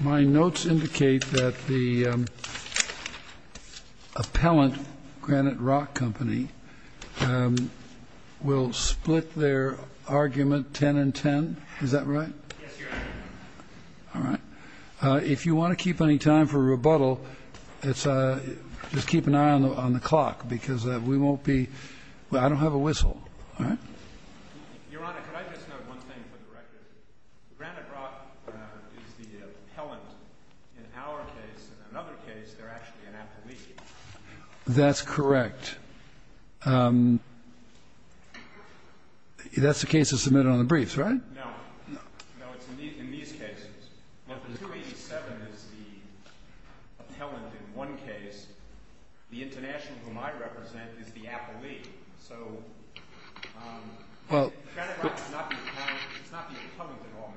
My notes indicate that the appellant, Granite Rock Company, will split their argument ten and ten. Is that right? Yes, Your Honor. All right. If you want to keep any time for rebuttal, just keep an eye on the clock, because we won't be... I don't have a whistle. All right? Your Honor, could I just note one thing for the record? Granite Rock is the appellant. In our case and another case, they're actually an appellee. That's correct. That's the case that's submitted on the briefs, right? No. No, it's in these cases. But the 287 is the appellant in one case. The international whom I represent is the appellee. So, Granite Rock is not the appellant. It's not the appellant that all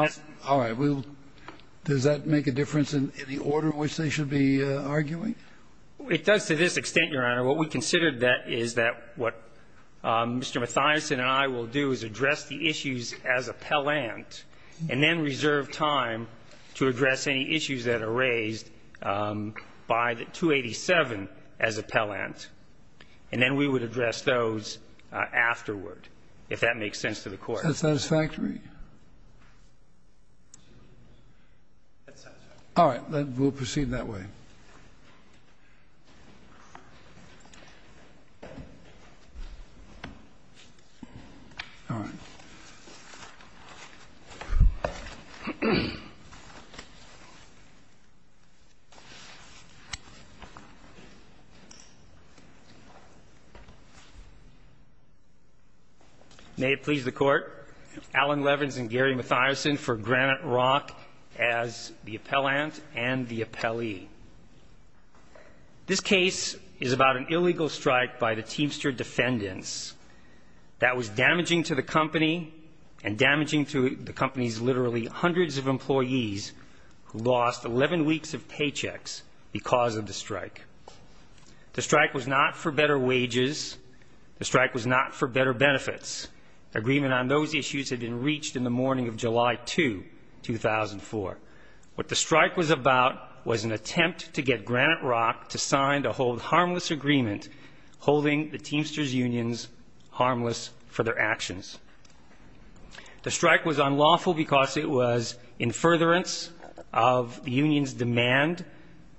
matters. All right. Does that make a difference in the order in which they should be arguing? It does to this extent, Your Honor. What we considered is that what Mr. Mathison and I will do is address the issues as appellant, and then reserve time to address any issues that are raised by the 287 as appellant. And then we would address those afterward, if that makes sense to the Court. Is that satisfactory? That's satisfactory. All right. We'll proceed that way. All right. May it please the Court, Alan Levins and Gary Mathison for Granite Rock as the appellant and the appellee. This case is about an illegal strike by the Teamster defendants that was damaging to the company and damaging to the company's literally hundreds of employees who lost 11 weeks of paychecks because of the strike. The strike was not for better wages. The strike was not for better benefits. Agreement on those issues had been reached in the morning of July 2, 2004. What the strike was about was an attempt to get Granite Rock to sign a hold harmless agreement holding the Teamster's unions harmless for their actions. The strike was unlawful because it was in furtherance of the union's demand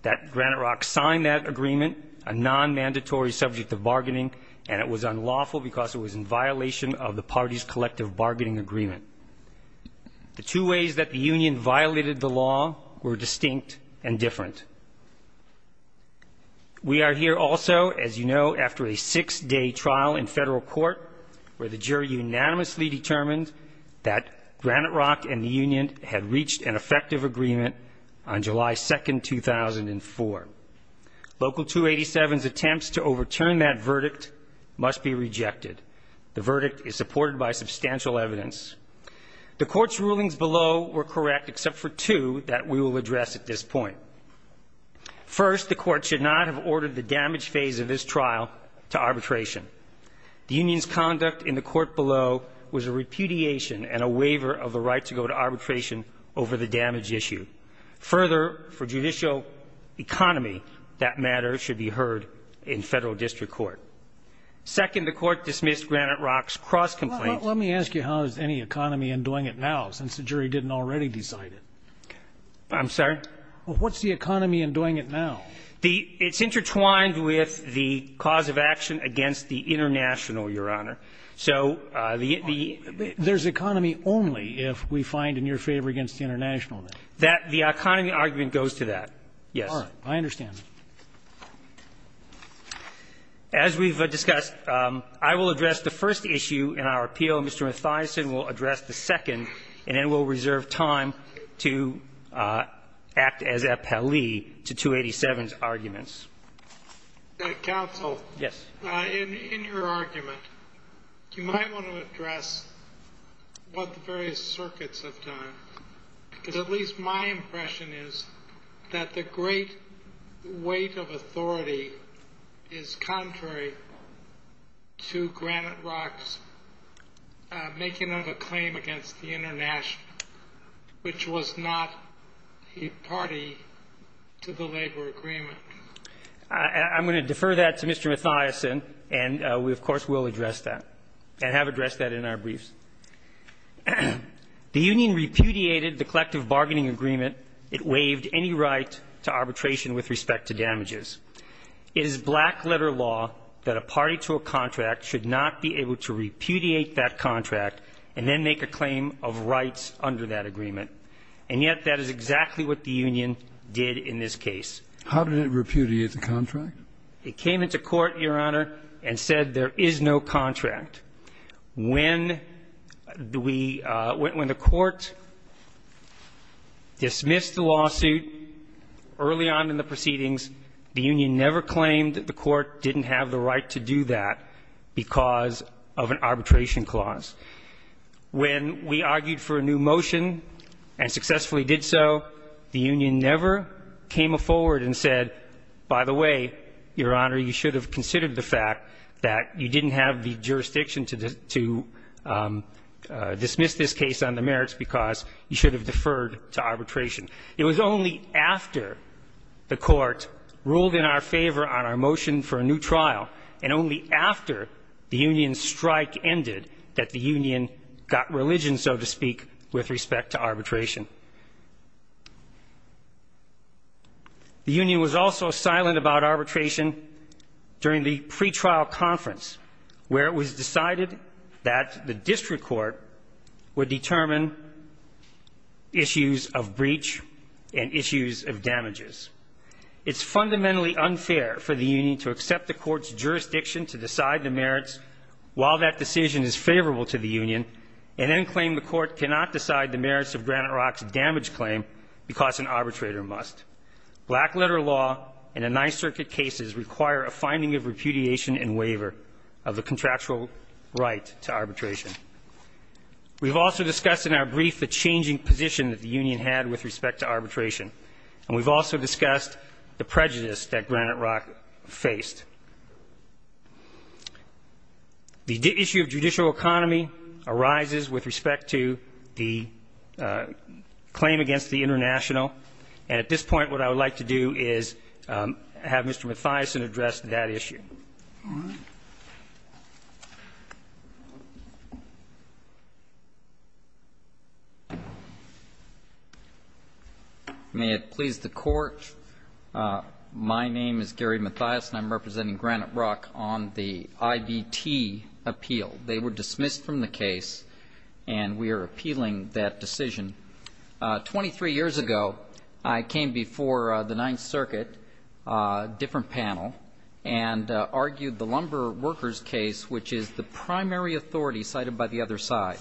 that Granite Rock sign that agreement, a nonmandatory subject of bargaining, and it was unlawful because it was in violation of the party's collective bargaining agreement. The two ways that the union violated the law were distinct and different. We are here also, as you know, after a six-day trial in federal court where the jury unanimously determined that Granite Rock and the union had reached an effective agreement on July 2, 2004. Local 287's attempts to overturn that verdict must be rejected. The verdict is supported by substantial evidence. The court's rulings below were correct except for two that we will address at this point. First, the court should not have ordered the damage phase of this trial to arbitration. The union's conduct in the court below was a repudiation and a waiver of the right to go to arbitration over the damage issue. Further, for judicial economy, that matter should be heard in federal district court. Second, the court dismissed Granite Rock's cross complaint. Let me ask you, how is any economy undoing it now since the jury didn't already decide it? I'm sorry? What's the economy undoing it now? It's intertwined with the cause of action against the international, Your Honor. So the the There's economy only if we find in your favor against the international. The economy argument goes to that. Yes. All right. I understand. As we've discussed, I will address the first issue in our appeal. Mr. Mathison will address the second, and then we'll reserve time to act as appellee to 287's arguments. Counsel. Yes. In your argument, you might want to address what the various circuits have done. Because at least my impression is that the great weight of authority is contrary to Granite Rock's making of a claim against the international, which was not a party to the labor agreement. I'm going to defer that to Mr. Mathison, and we, of course, will address that and have addressed that in our briefs. The union repudiated the collective bargaining agreement. It waived any right to arbitration with respect to damages. It is black letter law that a party to a contract should not be able to repudiate that contract and then make a claim of rights under that agreement. And yet that is exactly what the union did in this case. How did it repudiate the contract? It came into court, Your Honor, and said there is no contract. When the court dismissed the lawsuit early on in the proceedings, the union never claimed that the court didn't have the right to do that because of an arbitration clause. When we argued for a new motion and successfully did so, the union never came forward and said, by the way, Your Honor, you should have considered the fact that you didn't have the jurisdiction to dismiss this case on the merits because you should have deferred to arbitration. It was only after the court ruled in our favor on our motion for a new trial and only after the union's strike ended that the union got religion, so to speak, with respect to arbitration. The union was also silent about arbitration during the pretrial conference, where it was decided that the district court would determine issues of breach and issues of damages. It's fundamentally unfair for the union to accept the court's jurisdiction to decide the merits while that decision is favorable to the union and then claim the court cannot decide the merits of Granite Rock's damage claim because an arbitrator must. Black letter law and the Ninth Circuit cases require a finding of repudiation and waiver of the contractual right to arbitration. We've also discussed in our brief the changing position that the union had with respect to arbitration. And we've also discussed the prejudice that Granite Rock faced. The issue of judicial economy arises with respect to the claim against the international. And at this point, what I would like to do is have Mr. Mathiasen address that issue. May it please the Court, my name is Gary Mathiasen. I'm representing Granite Rock on the IBT appeal. They were dismissed from the case, and we are appealing that decision. Twenty-three years ago, I came before the Ninth Circuit, a different panel, and argued the Lumber Workers case, which is the primary authority cited by the other side.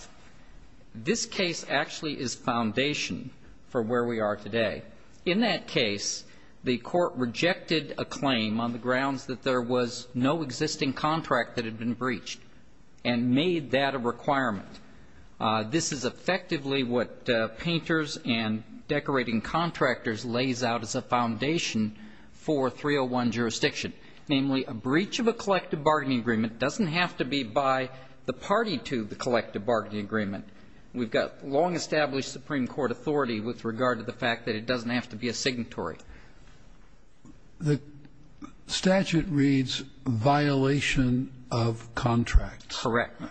This case actually is foundation for where we are today. In that case, the Court rejected a claim on the grounds that there was no existing contract that had been breached and made that a requirement. This is effectively what painters and decorating contractors lays out as a foundation for 301 jurisdiction, namely a breach of a collective bargaining agreement doesn't have to be by the party to the collective bargaining agreement. We've got long-established Supreme Court authority with regard to the fact that it doesn't have to be a signatory. The statute reads violation of contracts. Correct.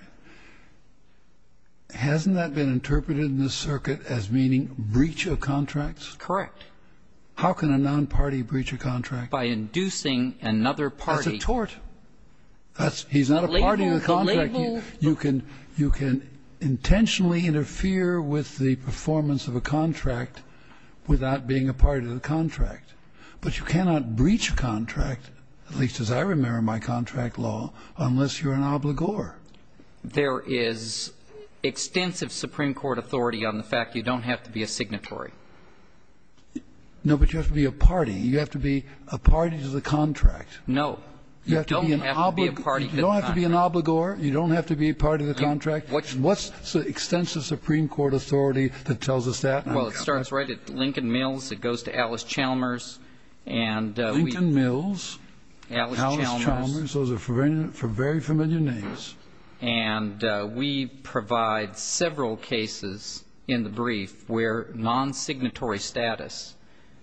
Hasn't that been interpreted in this circuit as meaning breach of contracts? Correct. How can a nonparty breach a contract? By inducing another party. That's a tort. He's not a party to the contract. You can intentionally interfere with the performance of a contract without being a party to the contract, but you cannot breach a contract, at least as I remember my contract law, unless you're an obligor. There is extensive Supreme Court authority on the fact you don't have to be a signatory. No, but you have to be a party. You have to be a party to the contract. You don't have to be a party to the contract. You don't have to be an obligor. You don't have to be a party to the contract. What's the extensive Supreme Court authority that tells us that? Well, it starts right at Lincoln Mills. It goes to Alice Chalmers. Lincoln Mills. Alice Chalmers. Those are very familiar names. And we provide several cases in the brief where non-signatory status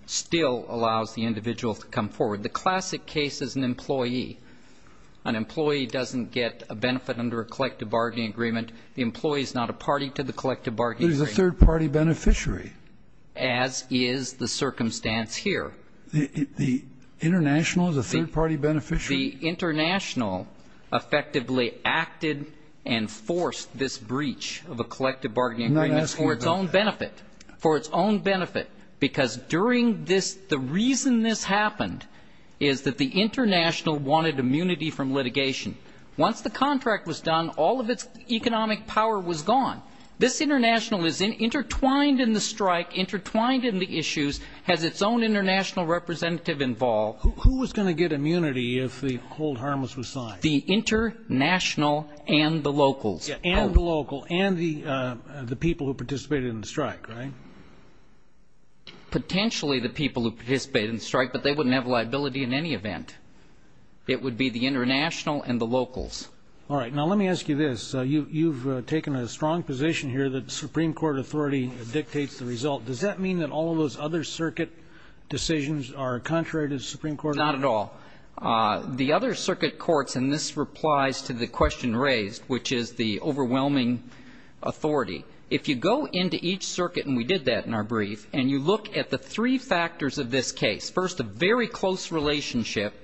still allows the individual to come forward. The classic case is an employee. An employee doesn't get a benefit under a collective bargaining agreement. The employee is not a party to the collective bargaining agreement. But he's a third-party beneficiary. As is the circumstance here. The international is a third-party beneficiary? The international effectively acted and forced this breach of a collective bargaining agreement for its own benefit, for its own benefit, because during this, the reason this happened is that the international wanted immunity from litigation. Once the contract was done, all of its economic power was gone. This international is intertwined in the strike, intertwined in the issues, has its own international representative involved. Who was going to get immunity if the hold harmless was signed? The international and the locals. And the local and the people who participated in the strike, right? Potentially the people who participated in the strike, but they wouldn't have liability in any event. It would be the international and the locals. All right. Now, let me ask you this. You've taken a strong position here that the Supreme Court authority dictates the result. Does that mean that all of those other circuit decisions are contrary to the Supreme Court? Not at all. The other circuit courts, and this replies to the question raised, which is the overwhelming authority. If you go into each circuit, and we did that in our brief, and you look at the three factors of this case, first a very close relationship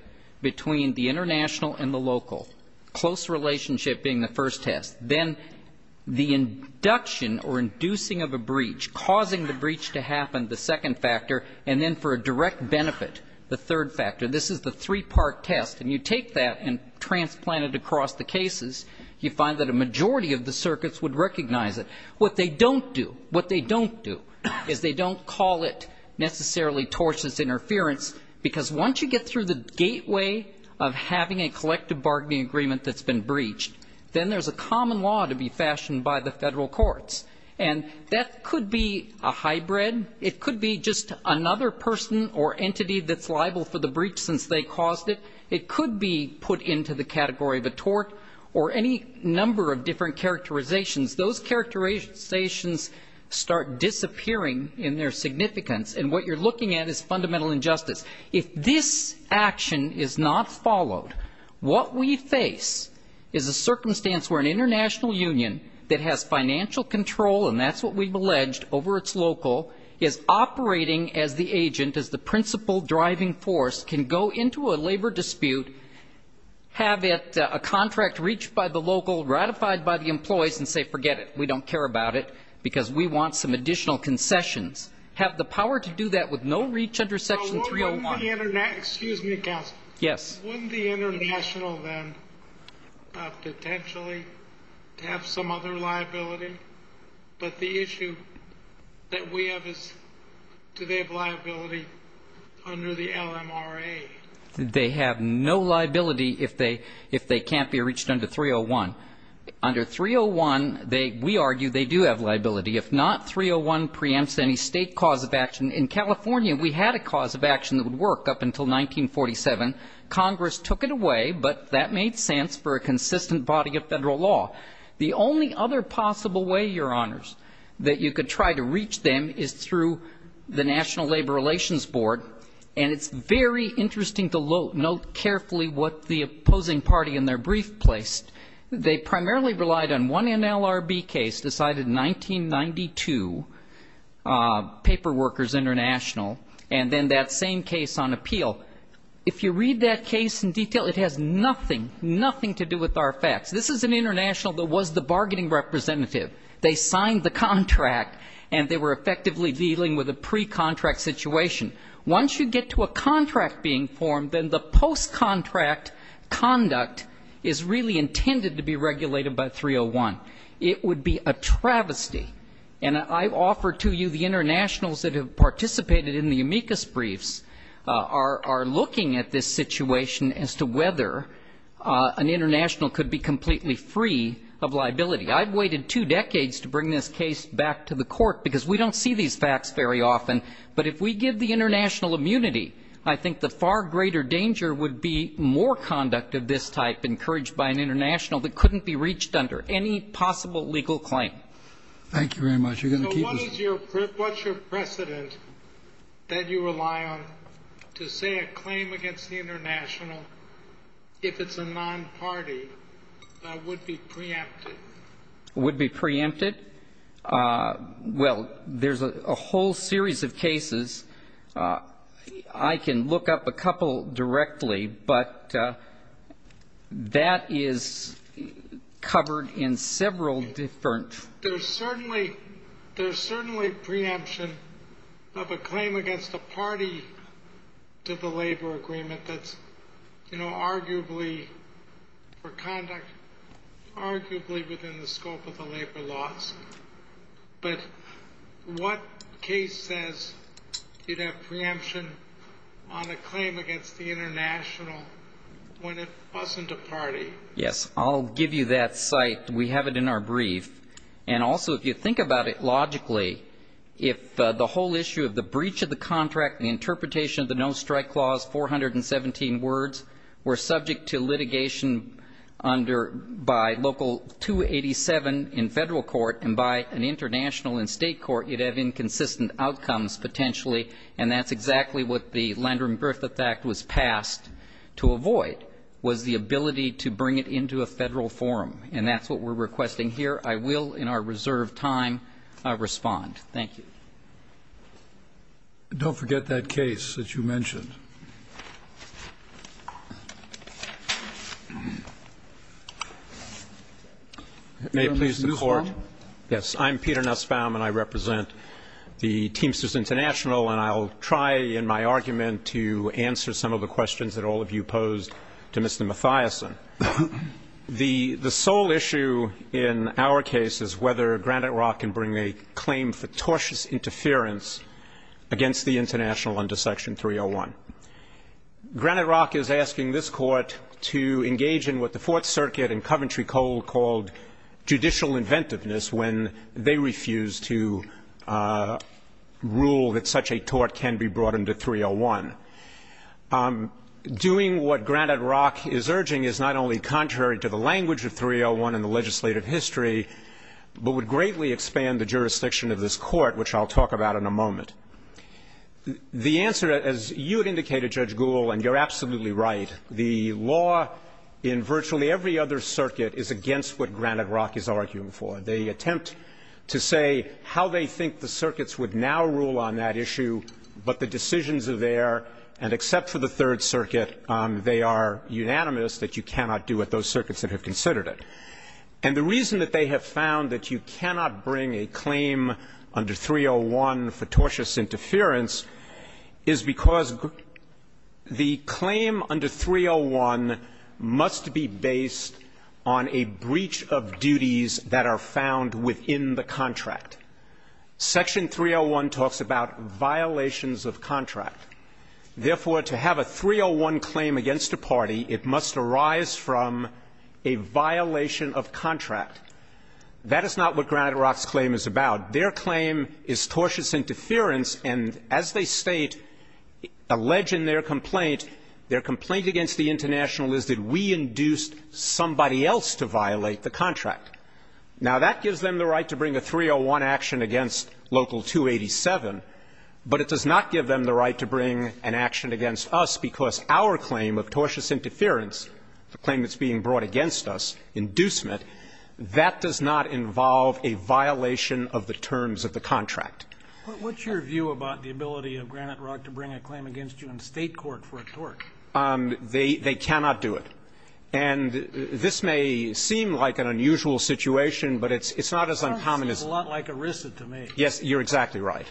between the international and the local, close relationship being the first test, then the induction or inducing of a breach, causing the breach to happen, the second factor, and then for a direct benefit, the third factor. This is the three-part test, and you take that and transplant it across the cases, you find that a majority of the circuits would recognize it. What they don't do, what they don't do is they don't call it necessarily tortious interference, because once you get through the gateway of having a collective bargaining agreement that's been breached, then there's a common law to be fashioned by the Federal courts. And that could be a hybrid. It could be just another person or entity that's liable for the breach since they caused it. It could be put into the category of a tort or any number of different characterizations. Those characterizations start disappearing in their significance. And what you're looking at is fundamental injustice. If this action is not followed, what we face is a circumstance where an international union that has financial control, and that's what we've alleged, over its local, is operating as the agent, as the principal driving force, can go into a labor dispute, have a contract reached by the local, ratified by the employees, and say, forget it, we don't care about it because we want some additional concessions. Have the power to do that with no reach under Section 301. Excuse me, counsel. Yes. Wouldn't the international then potentially have some other liability? But the issue that we have is do they have liability under the LMRA? They have no liability if they can't be reached under 301. Under 301, we argue they do have liability. If not, 301 preempts any state cause of action. In California, we had a cause of action that would work up until 1947. Congress took it away, but that made sense for a consistent body of Federal law. The only other possible way, Your Honors, that you could try to reach them is through the National Labor Relations Board, and it's very interesting to note carefully what the opposing party in their brief placed. They primarily relied on one NLRB case decided in 1992, Paper Workers International, and then that same case on appeal. If you read that case in detail, it has nothing, nothing to do with our facts. This is an international that was the bargaining representative. They signed the contract, and they were effectively dealing with a pre-contract situation. Once you get to a contract being formed, then the post-contract conduct is really intended to be regulated by 301. It would be a travesty, and I offer to you the internationals that have participated in the amicus briefs are looking at this situation as to whether an international could be completely free of liability. I've waited two decades to bring this case back to the Court because we don't see these facts very often. But if we give the international immunity, I think the far greater danger would be more conduct of this type encouraged by an international that couldn't be reached under any possible legal claim. Thank you very much. What's your precedent that you rely on to say a claim against the international, if it's a non-party, would be preempted? Would be preempted? Well, there's a whole series of cases. I can look up a couple directly, but that is covered in several different. There's certainly preemption of a claim against a party to the labor agreement that's arguably for conduct, arguably within the scope of the labor laws. But what case says you'd have preemption on a claim against the international when it wasn't a party? Yes, I'll give you that cite. We have it in our brief. And also, if you think about it logically, if the whole issue of the breach of the contract, the interpretation of the no-strike clause, 417 words, were subject to litigation by local 287 in federal court and by an international in state court, you'd have inconsistent outcomes potentially, and that's exactly what the Landrum-Griffith Act was passed to avoid, was the ability to bring it into a federal forum. And that's what we're requesting here. I will, in our reserved time, respond. Thank you. Don't forget that case that you mentioned. May it please the Court. Yes, I'm Peter Nussbaum, and I represent the Teamsters International, and I'll try in my argument to answer some of the questions that all of you posed to Mr. Matthiessen. The sole issue in our case is whether Granite Rock can bring a claim for tortious interference against the international under Section 301. Granite Rock is asking this Court to engage in what the Fourth Circuit and Coventry Coal called inventiveness when they refused to rule that such a tort can be brought under 301. Doing what Granite Rock is urging is not only contrary to the language of 301 in the legislative history, but would greatly expand the jurisdiction of this Court, which I'll talk about in a moment. The answer, as you had indicated, Judge Gould, and you're absolutely right, is that the law in virtually every other circuit is against what Granite Rock is arguing for. They attempt to say how they think the circuits would now rule on that issue, but the decisions are there, and except for the Third Circuit, they are unanimous that you cannot do what those circuits have considered it. And the reason that they have found that you cannot bring a claim under 301 for tortious interference is because the claim under 301 must be based on a breach of duties that are found within the contract. Section 301 talks about violations of contract. Therefore, to have a 301 claim against a party, it must arise from a violation of contract. That is not what Granite Rock's claim is about. Their claim is tortious interference, and as they state, allege in their complaint, their complaint against the International is that we induced somebody else to violate the contract. Now, that gives them the right to bring a 301 action against Local 287, but it does not give them the right to bring an action against us because our claim of tortious interference, the claim that's being brought against us, inducement, that does not involve a violation of the terms of the contract. But what's your view about the ability of Granite Rock to bring a claim against you in State court for a tort? They cannot do it. And this may seem like an unusual situation, but it's not as uncommon as the other. It seems a lot like ERISA to me. Yes, you're exactly right.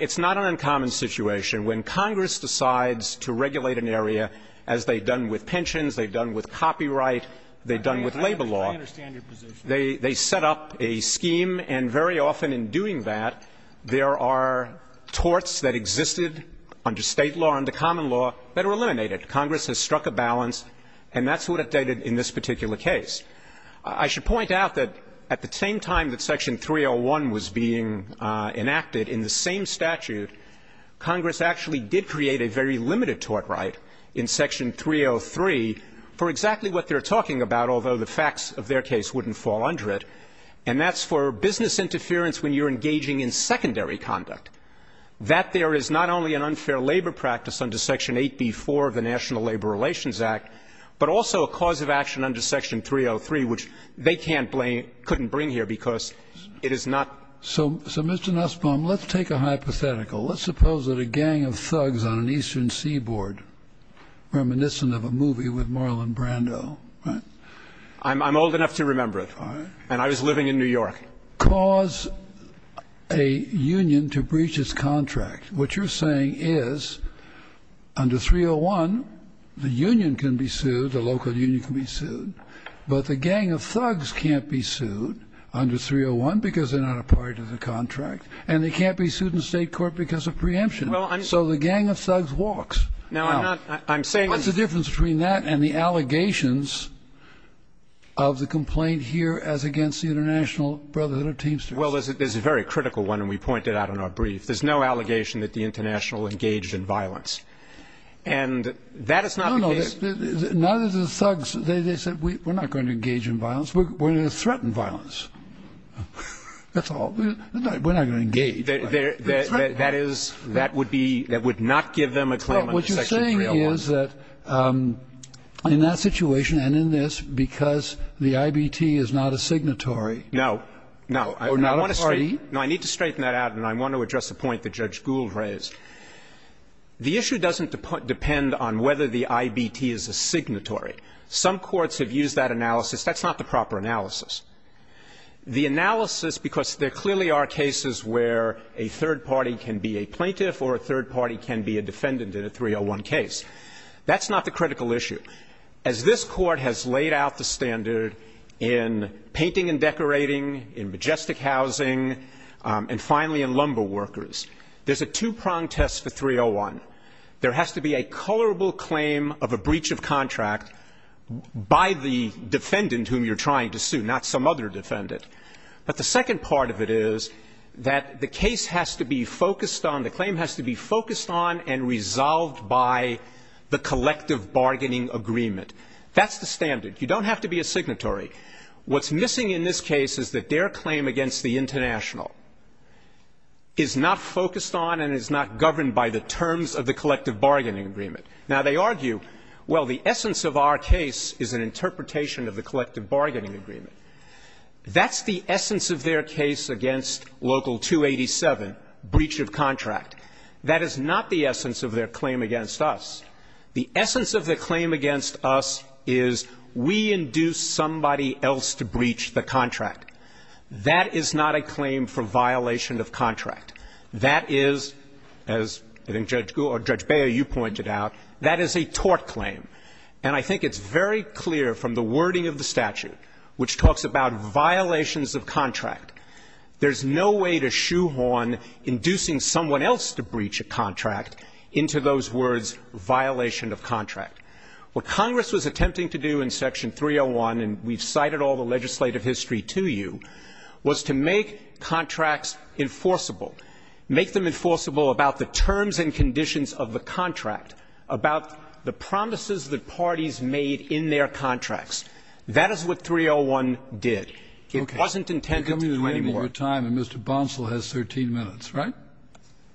It's not an uncommon situation. When Congress decides to regulate an area, as they've done with pensions, they've done with copyright, they've done with labor law. I understand your position. They set up a scheme, and very often in doing that, there are torts that existed under State law, under common law, that are eliminated. Congress has struck a balance, and that's what it did in this particular case. I should point out that at the same time that Section 301 was being enacted, in the same statute, Congress actually did create a very limited tort right in Section 303 for exactly what they're talking about, although the facts of their case wouldn't fall under it. And that's for business interference when you're engaging in secondary conduct, that there is not only an unfair labor practice under Section 8b-4 of the National Labor Relations Act, but also a cause of action under Section 303, which they can't blame or couldn't bring here because it is not. So, Mr. Nussbaum, let's take a hypothetical. Let's suppose that a gang of thugs on an eastern seaboard, reminiscent of a movie with Marlon Brando, right? I'm old enough to remember it. All right. And I was living in New York. Cause a union to breach its contract. What you're saying is under 301, the union can be sued, the local union can be sued, but the gang of thugs can't be sued under 301 because they're not a part of the contract, and they can't be sued in state court because of preemption. So the gang of thugs walks. Now, what's the difference between that and the allegations of the complaint here as against the International Brotherhood of Teamsters? Well, there's a very critical one, and we point it out in our brief. There's no allegation that the International engaged in violence. And that is not the case. No, no. Neither do the thugs. They said, we're not going to engage in violence. We're going to threaten violence. That's all. We're not going to engage. That is, that would be, that would not give them a claim under Section 301. What you're saying is that in that situation and in this, because the IBT is not a signatory. No, no. Or not a party. No, I need to straighten that out, and I want to address the point that Judge Gould raised. The issue doesn't depend on whether the IBT is a signatory. Some courts have used that analysis. That's not the proper analysis. The analysis, because there clearly are cases where a third party can be a plaintiff or a third party can be a defendant in a 301 case. That's not the critical issue. As this Court has laid out the standard in painting and decorating, in majestic housing, and finally in lumber workers, there's a two-prong test for 301. There has to be a colorable claim of a breach of contract by the defendant whom you're trying to sue, not some other defendant. But the second part of it is that the case has to be focused on, the claim has to be focused on and resolved by the collective bargaining agreement. That's the standard. You don't have to be a signatory. What's missing in this case is that their claim against the international is not focused on and is not governed by the terms of the collective bargaining agreement. Now, they argue, well, the essence of our case is an interpretation of the collective bargaining agreement. That's the essence of their case against Local 287, breach of contract. That is not the essence of their claim against us. The essence of their claim against us is we induced somebody else to breach the contract. That is not a claim for violation of contract. That is, as I think Judge Gould or Judge Beyer, you pointed out, that is a tort claim. And I think it's very clear from the wording of the statute, which talks about violations of contract, there's no way to shoehorn inducing someone else to breach a contract into those words, violation of contract. What Congress was attempting to do in Section 301, and we've cited all the legislative history to you, was to make contracts enforceable, make them enforceable about the terms and conditions of the contract, about the promises that parties made in their contracts. That is what 301 did. It wasn't intended to do any more. Kennedy. You're coming to the end of your time, and Mr. Bonsill has 13 minutes, right?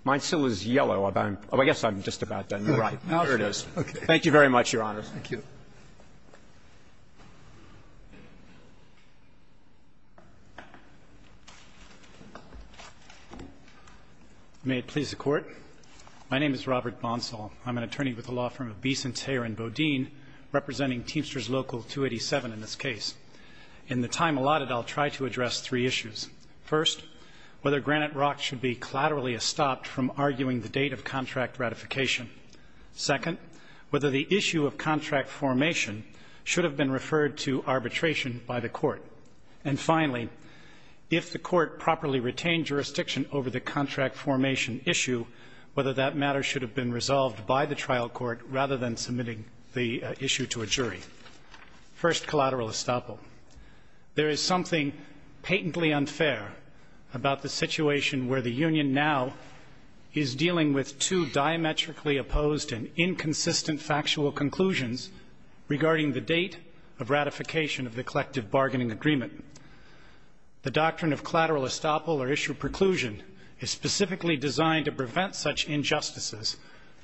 Bonsill is yellow. I guess I'm just about done. There it is. Thank you very much, Your Honors. Thank you. May it please the Court. My name is Robert Bonsill. I'm an attorney with the law firm of Beeson, Thayer & Bodine, representing Teamsters Local 287 in this case. In the time allotted, I'll try to address three issues. First, whether Granite Rock should be collaterally estopped from arguing the date of contract ratification. Second, whether the issue of contract formation should have been referred to arbitration by the Court. And finally, if the Court properly retained jurisdiction over the contract formation issue, whether that matter should have been resolved by the trial court rather than submitting the issue to a jury. First, collateral estoppel. There is something patently unfair about the situation where the union now is dealing with two diametrically opposed and inconsistent factual conclusions regarding the date of ratification of the collective bargaining agreement. The doctrine of collateral estoppel or issue preclusion is specifically designed to prevent such injustices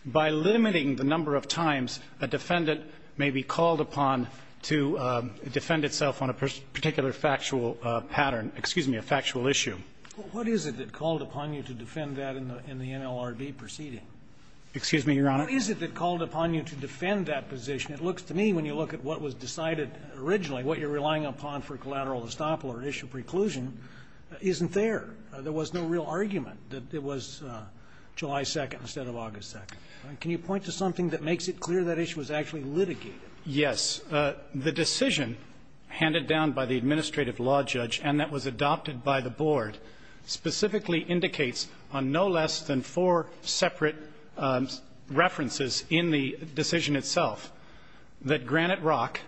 by limiting the number of times a defendant may be called upon to defend itself on a particular factual pattern, excuse me, a factual issue. What is it that called upon you to defend that in the NLRB proceeding? Excuse me, Your Honor. What is it that called upon you to defend that position? It looks to me, when you look at what was decided originally, what you're relying upon for collateral estoppel or issue preclusion isn't there. There was no real argument that it was July 2nd instead of August 2nd. Can you point to something that makes it clear that issue was actually litigated? Yes. The decision handed down by the administrative law judge and that was adopted by the court specifically indicates on no less than four separate references in the decision itself that Granite Rock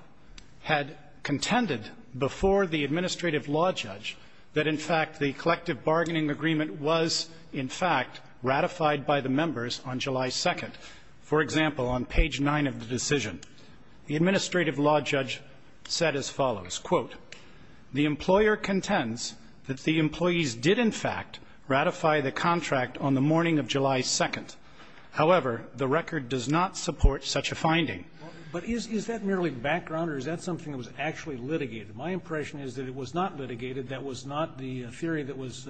had contended before the administrative law judge that, in fact, the collective bargaining agreement was, in fact, ratified by the members on July 2nd. For example, on page 9 of the decision, the administrative law judge said as follows, quote, the employer contends that the employees did, in fact, ratify the contract on the morning of July 2nd. However, the record does not support such a finding. But is that merely background or is that something that was actually litigated? My impression is that it was not litigated. That was not the theory that was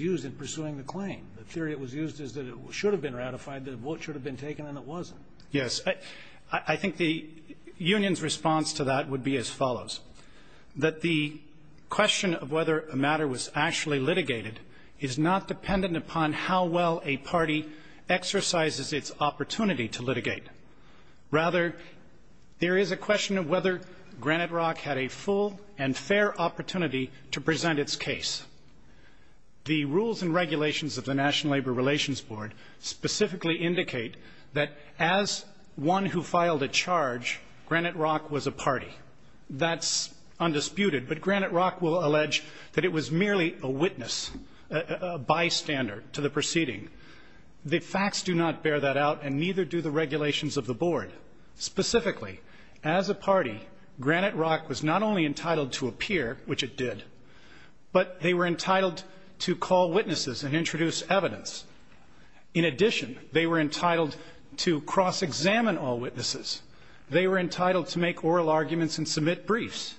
used in pursuing the claim. The theory that was used is that it should have been ratified, that a vote should have been taken, and it wasn't. Yes. I think the union's response to that would be as follows, that the question of whether a matter was actually litigated is not dependent upon how well a party exercises its opportunity to litigate. Rather, there is a question of whether Granite Rock had a full and fair opportunity to present its case. The rules and regulations of the National Labor Relations Board specifically indicate that as one who filed a charge, Granite Rock was a party. That's undisputed, but Granite Rock will allege that it was merely a witness, a bystander to the proceeding. The facts do not bear that out and neither do the regulations of the board. Specifically, as a party, Granite Rock was not only entitled to appear, which it did, but they were entitled to call witnesses and introduce evidence. In addition, they were entitled to cross-examine all witnesses. They were entitled to make oral arguments and submit briefs.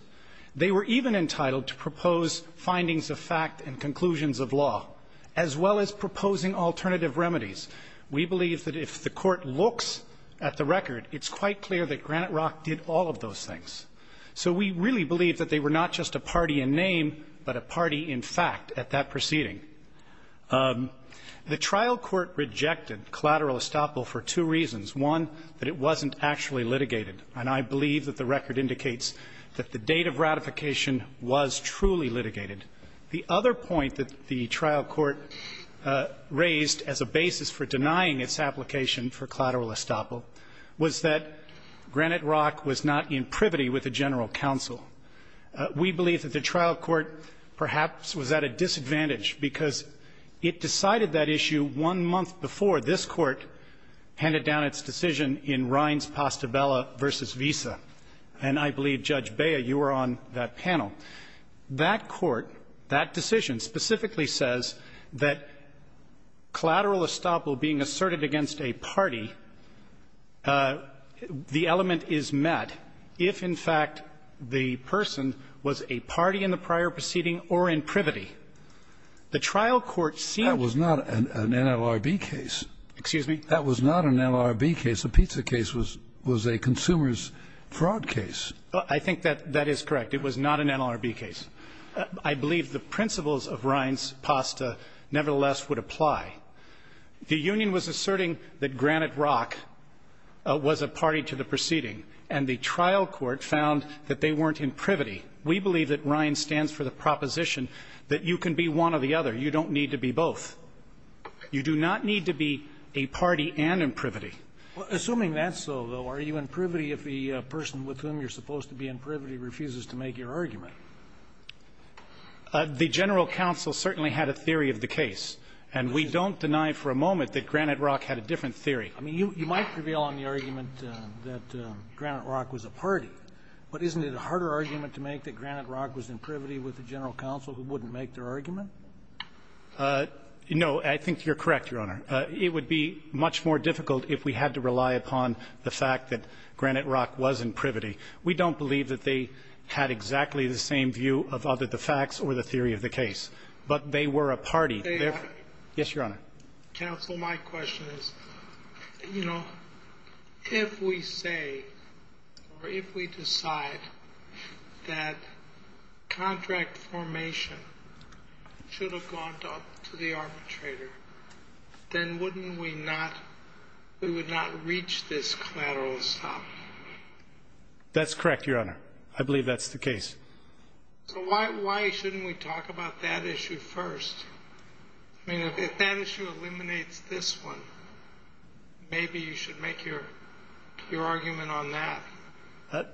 They were even entitled to propose findings of fact and conclusions of law, as well as proposing alternative remedies. We believe that if the court looks at the record, it's quite clear that Granite Rock did all of those things. So we really believe that they were not just a party in name, but a party in fact at that proceeding. The trial court rejected collateral estoppel for two reasons. One, that it wasn't actually litigated. And I believe that the record indicates that the date of ratification was truly litigated. The other point that the trial court raised as a basis for denying its application for collateral estoppel was that Granite Rock was not in privity with the general counsel. We believe that the trial court perhaps was at a disadvantage because it decided that issue one month before this Court handed down its decision in Rines-Pastabella v. Visa. And I believe, Judge Bea, you were on that panel. That Court, that decision specifically says that collateral estoppel being asserted against a party, the element is met if, in fact, the person was a party in the prior proceeding or in privity. The trial court seemed to be. That was not an NLRB case. Excuse me? That was not an NLRB case. The pizza case was a consumer's fraud case. I think that that is correct. It was not an NLRB case. I believe the principles of Rines-Pasta nevertheless would apply. The union was asserting that Granite Rock was a party to the proceeding, and the trial court found that they weren't in privity. We believe that Rines stands for the proposition that you can be one or the other. You don't need to be both. You do not need to be a party and in privity. Assuming that's so, though, are you in privity if the person with whom you're supposed to be in privity refuses to make your argument? The general counsel certainly had a theory of the case. And we don't deny for a moment that Granite Rock had a different theory. I mean, you might prevail on the argument that Granite Rock was a party, but isn't it a harder argument to make that Granite Rock was in privity with the general counsel who wouldn't make their argument? No. I think you're correct, Your Honor. It would be much more difficult if we had to rely upon the fact that Granite Rock was in privity. We don't believe that they had exactly the same view of either the facts or the theory of the case. But they were a party. Yes, Your Honor. Counsel, my question is, you know, if we say or if we decide that contract formation should have gone to the arbitrator, then wouldn't we not, we would not reach this collateral stop? That's correct, Your Honor. I believe that's the case. So why shouldn't we talk about that issue first? I mean, if that issue eliminates this one, maybe you should make your argument on that.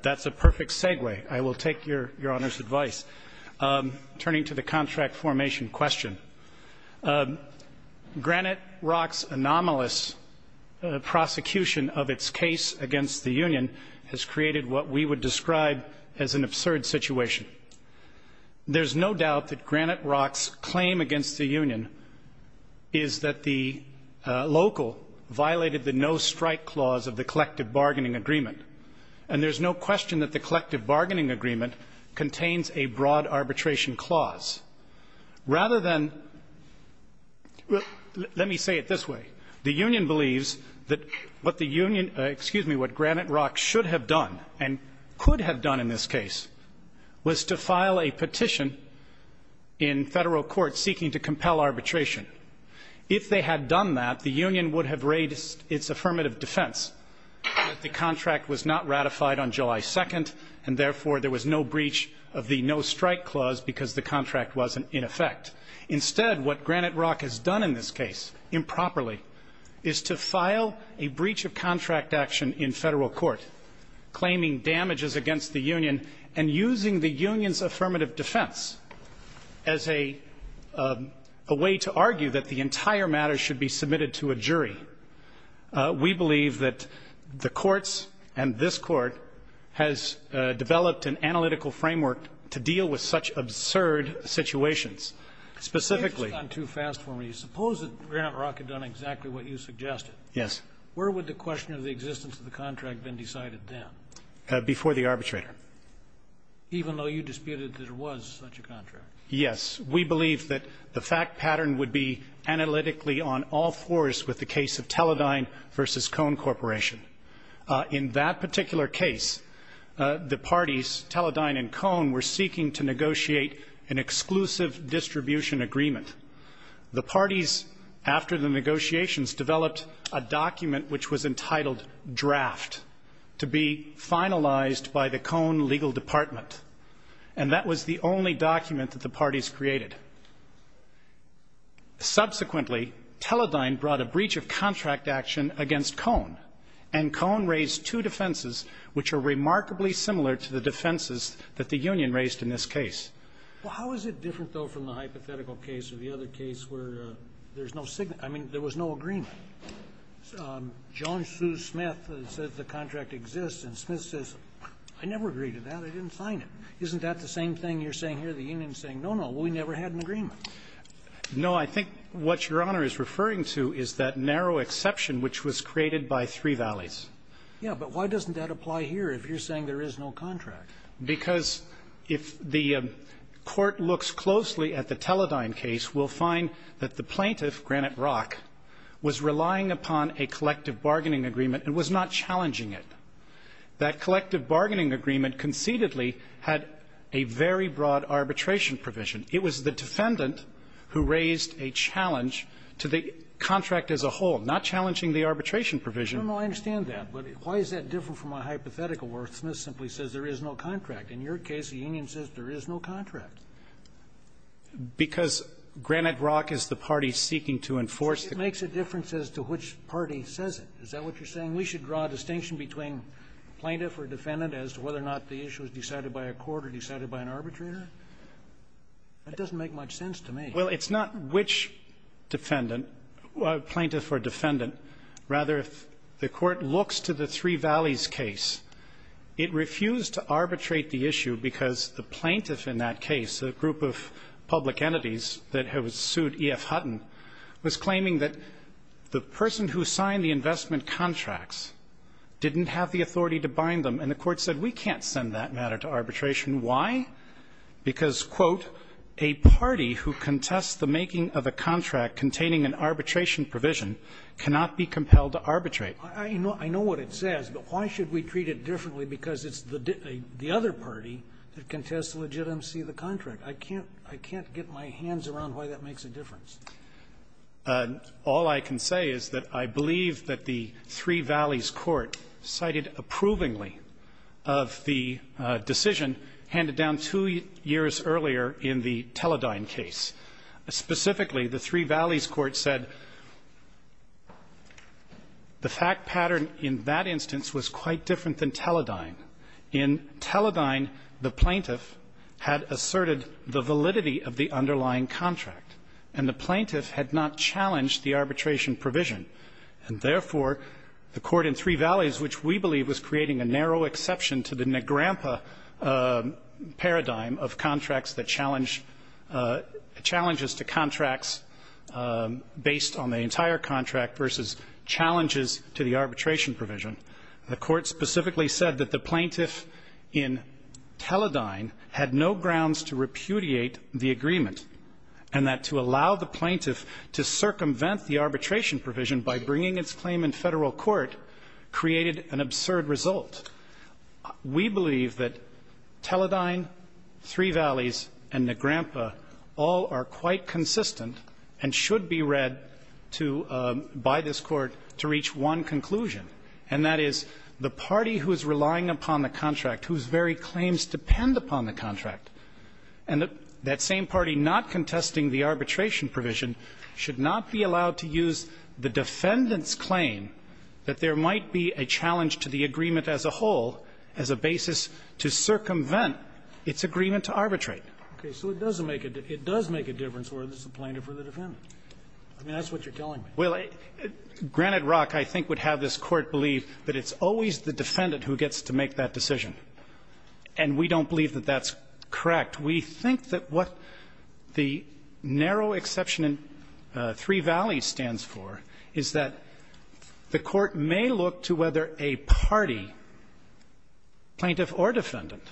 That's a perfect segue. I will take Your Honor's advice. Turning to the contract formation question, Granite Rock's anomalous prosecution of its case against the union has created what we would describe as an absurd situation. There's no doubt that Granite Rock's claim against the union is that the local violated the no strike clause of the collective bargaining agreement. And there's no question that the collective bargaining agreement contains a broad arbitration clause. Rather than, let me say it this way. The union believes that what the union, excuse me, what Granite Rock should have done, and could have done in this case, was to file a petition in federal court seeking to compel arbitration. If they had done that, the union would have raised its affirmative defense that the contract was not ratified on July 2nd, and therefore there was no breach of the no strike clause because the contract wasn't in effect. Instead, what Granite Rock has done in this case improperly is to file a breach of the contract claiming damages against the union and using the union's affirmative defense as a way to argue that the entire matter should be submitted to a jury. We believe that the courts and this Court has developed an analytical framework to deal with such absurd situations. Specifically. Scalia, you've gone too fast for me. Suppose that Granite Rock had done exactly what you suggested. Yes. Where would the question of the existence of the contract have been decided then? Before the arbitrator. Even though you disputed that it was such a contract? Yes. We believe that the fact pattern would be analytically on all fours with the case of Teledyne v. Cone Corporation. In that particular case, the parties Teledyne and Cone were seeking to negotiate an exclusive distribution agreement. The parties, after the negotiations, developed a document which was entitled draft to be finalized by the Cone legal department. And that was the only document that the parties created. Subsequently, Teledyne brought a breach of contract action against Cone. And Cone raised two defenses which are remarkably similar to the defenses that the union raised in this case. Well, how is it different, though, from the hypothetical case or the other case where there's no signal? I mean, there was no agreement. John Sue Smith says the contract exists. And Smith says, I never agreed to that. I didn't sign it. Isn't that the same thing you're saying here? The union is saying, no, no, we never had an agreement. No. I think what Your Honor is referring to is that narrow exception which was created by Three Valleys. But why doesn't that apply here if you're saying there is no contract? Because if the Court looks closely at the Teledyne case, we'll find that the plaintiff, Granite Rock, was relying upon a collective bargaining agreement and was not challenging it. That collective bargaining agreement concededly had a very broad arbitration provision. It was the defendant who raised a challenge to the contract as a whole, not challenging the arbitration provision. I don't know. I understand that. But why is that different from a hypothetical where Smith simply says there is no contract? In your case, the union says there is no contract. Because Granite Rock is the party seeking to enforce the contract. It makes a difference as to which party says it. Is that what you're saying? We should draw a distinction between plaintiff or defendant as to whether or not the issue is decided by a court or decided by an arbitrator? That doesn't make much sense to me. Well, it's not which defendant, plaintiff or defendant. Rather, if the Court looks to the Three Valleys case, it refused to arbitrate the issue because the plaintiff in that case, a group of public entities that had sued E.F. Hutton, was claiming that the person who signed the investment contracts didn't have the authority to bind them. And the Court said, we can't send that matter to arbitration. Why? Because, quote, a party who contests the making of a contract containing an arbitration provision cannot be compelled to arbitrate. I know what it says, but why should we treat it differently because it's the other party that contests the legitimacy of the contract? I can't get my hands around why that makes a difference. All I can say is that I believe that the Three Valleys Court cited approvingly of the decision handed down two years earlier in the Teledyne case. Specifically, the Three Valleys Court said the fact pattern in that instance was quite different than Teledyne. In Teledyne, the plaintiff had asserted the validity of the underlying contract, and the plaintiff had not challenged the arbitration provision. And therefore, the Court in Three Valleys, which we believe was creating a narrow exception to the Negrampa paradigm of contracts that challenge the challenges to contracts based on the entire contract versus challenges to the arbitration provision, the Court specifically said that the plaintiff in Teledyne had no grounds to repudiate the agreement, and that to allow the plaintiff to circumvent the arbitration provision by bringing its claim in Federal court created an absurd result. We believe that Teledyne, Three Valleys, and Negrampa all are quite consistent and should be read to by this Court to reach one conclusion, and that is the party who is relying upon the contract, whose very claims depend upon the contract, and that same party not contesting the arbitration provision should not be allowed to use the defendant's claim that there might be a challenge to the agreement as a whole as a basis to circumvent its agreement to arbitrate. It does make a difference whether it's the plaintiff or the defendant. I mean, that's what you're telling me. Well, granted, Rock, I think, would have this Court believe that it's always the defendant who gets to make that decision. And we don't believe that that's correct. We think that what the narrow exception in Three Valleys stands for is that the Court may look to whether a party, plaintiff or defendant,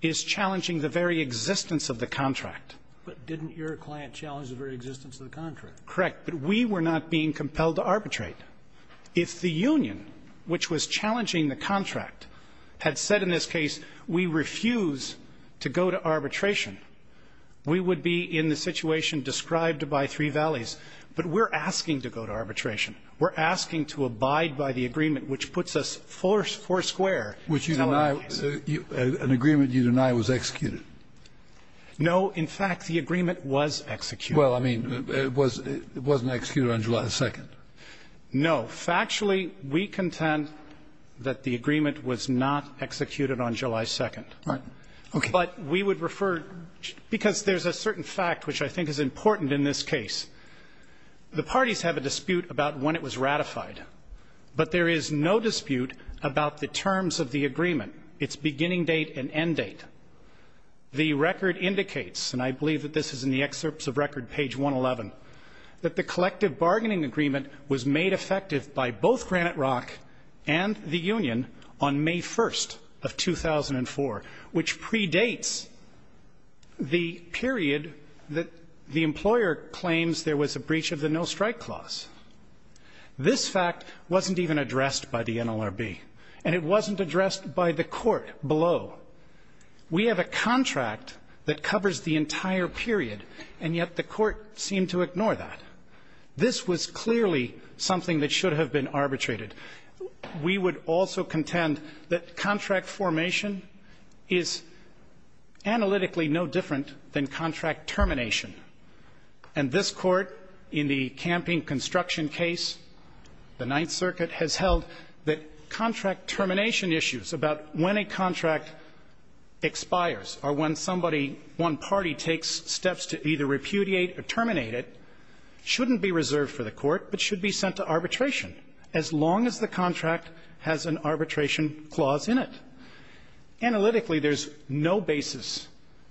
is challenging the very existence of the contract. But didn't your client challenge the very existence of the contract? Correct. But we were not being compelled to arbitrate. If the union, which was challenging the contract, had said in this case, we refuse to go to arbitration, we would be in the situation described by Three Valleys. But we're asking to go to arbitration. We're asking to abide by the agreement, which puts us four square. Which you deny, an agreement you deny was executed. No. In fact, the agreement was executed. Well, I mean, it wasn't executed on July 2nd. No. Factually, we contend that the agreement was not executed on July 2nd. Right. Okay. But we would refer, because there's a certain fact which I think is important in this case. The parties have a dispute about when it was ratified, but there is no dispute about the terms of the agreement, its beginning date and end date. That the collective bargaining agreement was made effective by both Granite Rock and the union on May 1st of 2004, which predates the period that the employer claims there was a breach of the no-strike clause. This fact wasn't even addressed by the NLRB, and it wasn't addressed by the court below. We have a contract that covers the entire period, and yet the court seemed to ignore that. This was clearly something that should have been arbitrated. We would also contend that contract formation is analytically no different than contract termination. And this Court, in the camping construction case, the Ninth Circuit, has held that when a contract expires or when somebody, one party takes steps to either repudiate or terminate it, it shouldn't be reserved for the court, but should be sent to arbitration as long as the contract has an arbitration clause in it. Analytically, there's no basis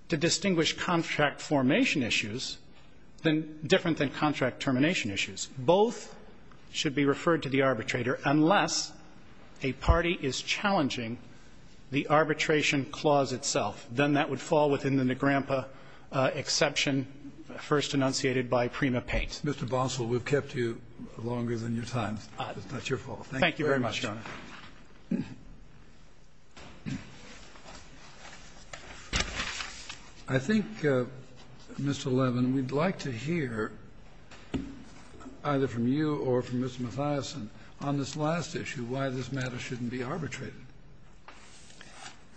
to distinguish contract formation issues different than contract termination issues. Both should be referred to the arbitrator unless a party is challenging the arbitration clause itself. Then that would fall within the Negrempa exception first enunciated by Prima Pate. Kennedy. Mr. Boswell, we've kept you longer than your time. It's not your fault. Thank you very much, Your Honor. I think, Mr. Levin, we'd like to hear either from you or from Mr. Mathiasen on this last issue, why this matter shouldn't be arbitrated,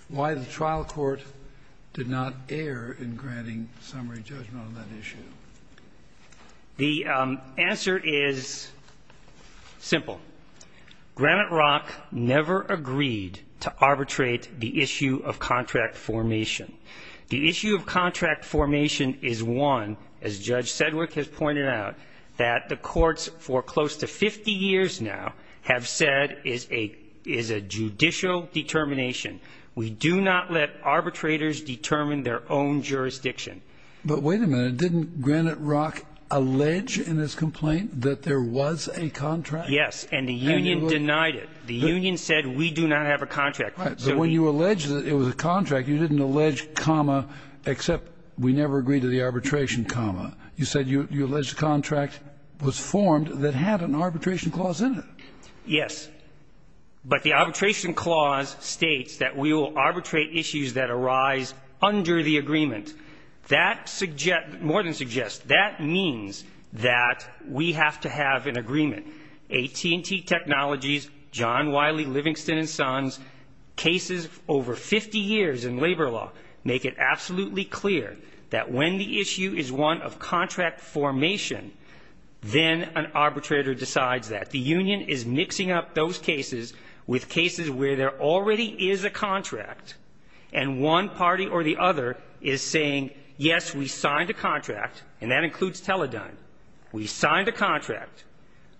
why the trial court did not err in granting summary judgment on that issue. The answer is simple. Granite Rock never agreed to arbitrate the issue of contract formation. The issue of contract formation is one, as Judge Sedgwick has pointed out, that the courts for close to 50 years now have said is a judicial determination. We do not let arbitrators determine their own jurisdiction. But wait a minute. Didn't Granite Rock allege in his complaint that there was a contract? Yes. And the union denied it. The union said we do not have a contract. So when you allege that it was a contract, you didn't allege comma except we never agreed to the arbitration comma. You said you allege the contract was formed that had an arbitration clause in it. Yes. But the arbitration clause states that we will arbitrate issues that arise under the agreement. More than suggest. That means that we have to have an agreement. AT&T Technologies, John Wiley, Livingston & Sons, cases over 50 years in labor law make it absolutely clear that when the issue is one of contract formation, then an arbitrator decides that. The union is mixing up those cases with cases where there already is a contract and one party or the other is saying, yes, we signed a contract, and that includes Teledyne. We signed a contract.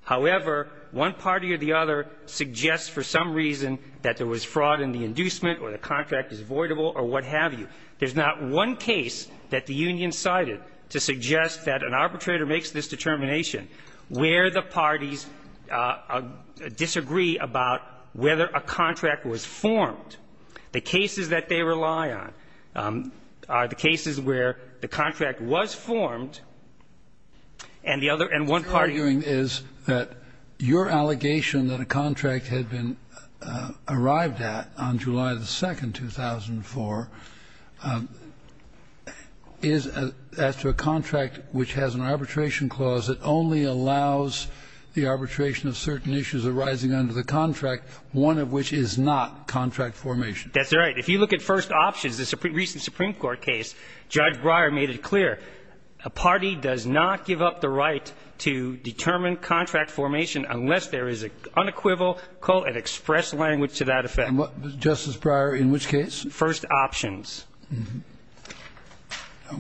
However, one party or the other suggests for some reason that there was fraud in the inducement or the contract is voidable or what have you. There's not one case that the union cited to suggest that an arbitrator makes this determination where the parties disagree about whether a contract was formed. The cases that they rely on are the cases where the contract was formed and the other and one party. The point you're arguing is that your allegation that a contract had been arrived at on July the 2nd, 2004 is as to a contract which has an arbitration clause that only allows the arbitration of certain issues arising under the contract, one of which is not contract formation. That's right. If you look at first options, the recent Supreme Court case, Judge Breyer made it clear. A party does not give up the right to determine contract formation unless there is an unequivocal and express language to that effect. Justice Breyer, in which case? First options.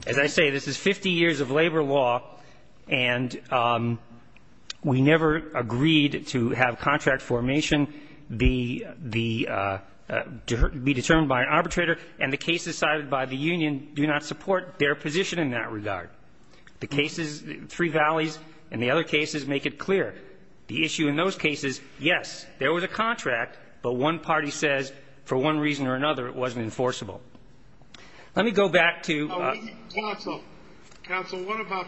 As I say, this is 50 years of labor law, and we never agreed to have contract formation. The case decided by the union do not support their position in that regard. The cases, Three Valleys and the other cases, make it clear. The issue in those cases, yes, there was a contract, but one party says for one reason or another it wasn't enforceable. Let me go back to ---- Counsel. Counsel, what about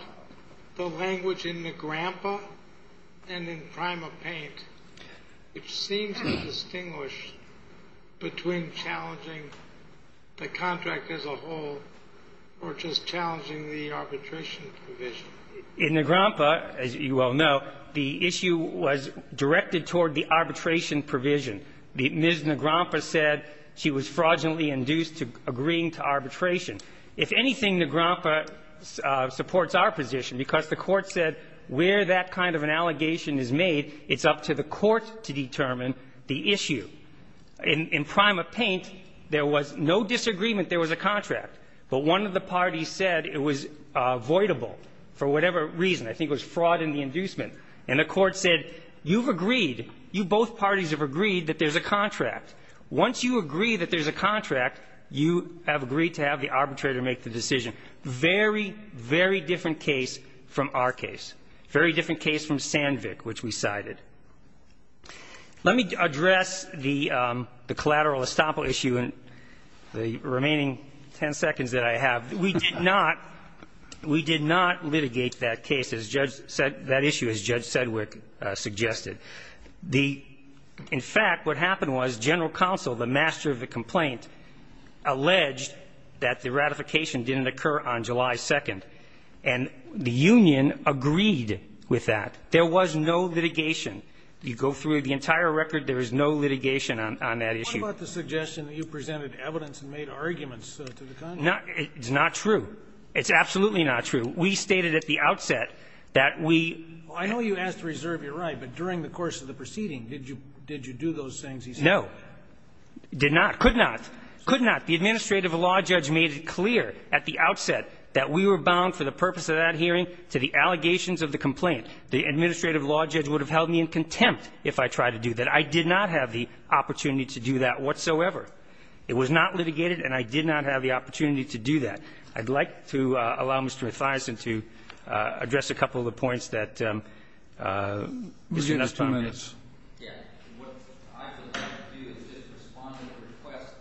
the language in the grandpa and in Prima Paint? It seems to distinguish between challenging the contract as a whole or just challenging the arbitration provision. In the grandpa, as you well know, the issue was directed toward the arbitration provision. Ms. Negrompa said she was fraudulently induced to agreeing to arbitration. If anything, Negrompa supports our position, because the Court said where that kind of an allegation is made, it's up to the Court to determine the issue. In Prima Paint, there was no disagreement there was a contract, but one of the parties said it was voidable for whatever reason. I think it was fraud in the inducement. And the Court said, you've agreed, you both parties have agreed that there's a contract. Once you agree that there's a contract, you have agreed to have the arbitrator make the decision. Very, very different case from our case. Very different case from Sandvik, which we cited. Let me address the collateral estoppel issue in the remaining ten seconds that I have. We did not litigate that case, that issue, as Judge Sedgwick suggested. In fact, what happened was General Counsel, the master of the complaint, alleged that the ratification didn't occur on July 2nd. And the union agreed with that. There was no litigation. You go through the entire record, there is no litigation on that issue. What about the suggestion that you presented evidence and made arguments to the Congress? It's not true. It's absolutely not true. We stated at the outset that we ---- I know you asked to reserve your right, but during the course of the proceeding, did you do those things he said? No. Did not. Could not. Could not. The administrative law judge made it clear at the outset that we were bound for the purpose of that hearing to the allegations of the complaint. The administrative law judge would have held me in contempt if I tried to do that. I did not have the opportunity to do that whatsoever. It was not litigated, and I did not have the opportunity to do that. I'd like to allow Mr. Mathiasen to address a couple of the points that Mr. Estoppel made. Yes. What I would like to do is respond to the request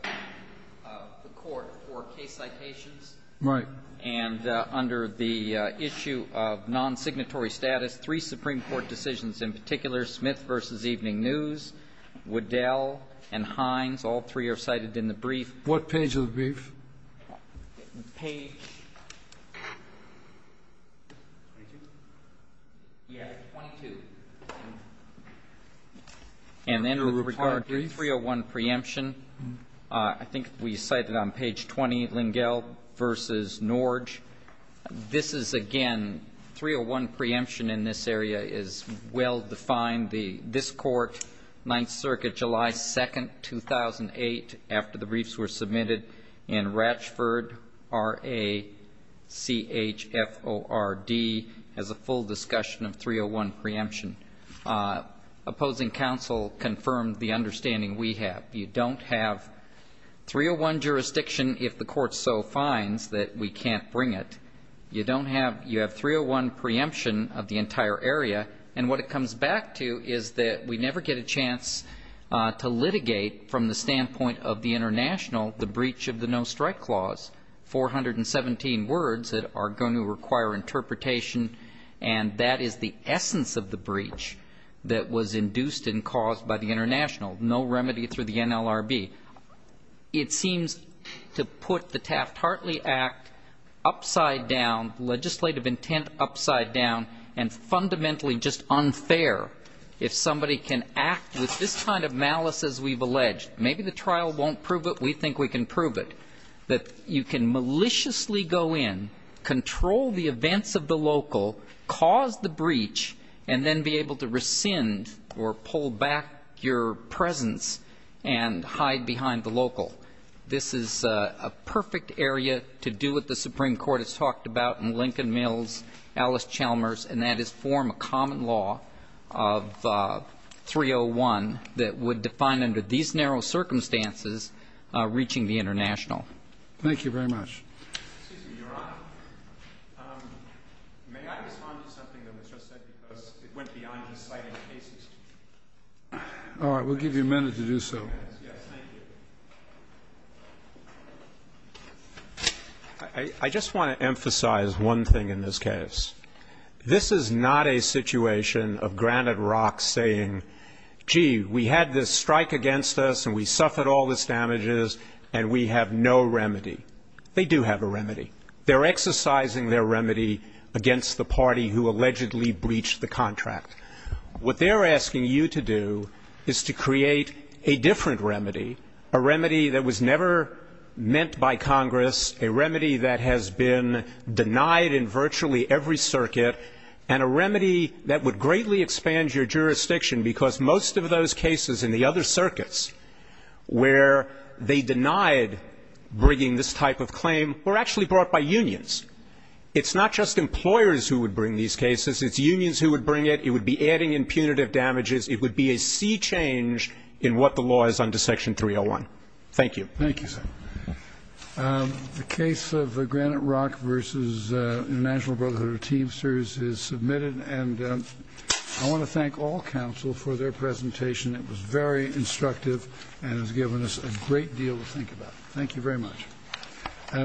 of the Court for case citations. Right. And under the issue of non-signatory status, three Supreme Court decisions in particular, Smith v. Evening News, Waddell and Hines, all three are cited in the brief. What page of the brief? Page 22. And then with regard to 301 preemption, I think we cited on page 20, Lingell v. Norge. This is, again, 301 preemption in this area is well defined. This Court, Ninth Circuit, July 2, 2008, after the briefs were submitted in Ratchford R-A-C-H-F-O-R-D, has a full discussion of 301 preemption. Opposing counsel confirmed the understanding we have. You don't have 301 jurisdiction if the Court so finds that we can't bring it. You have 301 preemption of the entire area. And what it comes back to is that we never get a chance to litigate from the standpoint of the international the breach of the no-strike clause, 417 words that are going to require interpretation, and that is the essence of the breach that was induced and caused by the international, no remedy through the NLRB. It seems to put the Taft-Hartley Act upside down, legislative intent upside down, and fundamentally just unfair if somebody can act with this kind of malice as we've alleged. Maybe the trial won't prove it. We think we can prove it, that you can maliciously go in, control the events of the local, cause the breach, and then be able to rescind or pull back your presence and hide behind the local. This is a perfect area to do what the Supreme Court has talked about in Lincoln Mills, Alice Chalmers, and that is form a common law of 301 that would define under these narrow circumstances reaching the international. Thank you very much. Excuse me, Your Honor. May I respond to something that was just said because it went beyond just citing cases? All right. We'll give you a minute to do so. Yes, thank you. I just want to emphasize one thing in this case. This is not a situation of Granite Rock saying, gee, we had this strike against us and we suffered all these damages and we have no remedy. They do have a remedy. They're exercising their remedy against the party who allegedly breached the contract. What they're asking you to do is to create a different remedy, a remedy that was never meant by Congress, a remedy that has been denied in virtually every circuit, and a remedy that would greatly expand your jurisdiction because most of those cases in the other circuits where they denied bringing this type of claim were actually brought by unions. It's not just employers who would bring these cases. It's unions who would bring it. It would be adding impunitive damages. It would be a sea change in what the law is under Section 301. Thank you. Thank you, sir. The case of Granite Rock v. International Brotherhood of Teamsters is submitted, and I want to thank all counsel for their presentation. It was very instructive and has given us a great deal to think about. Thank you very much.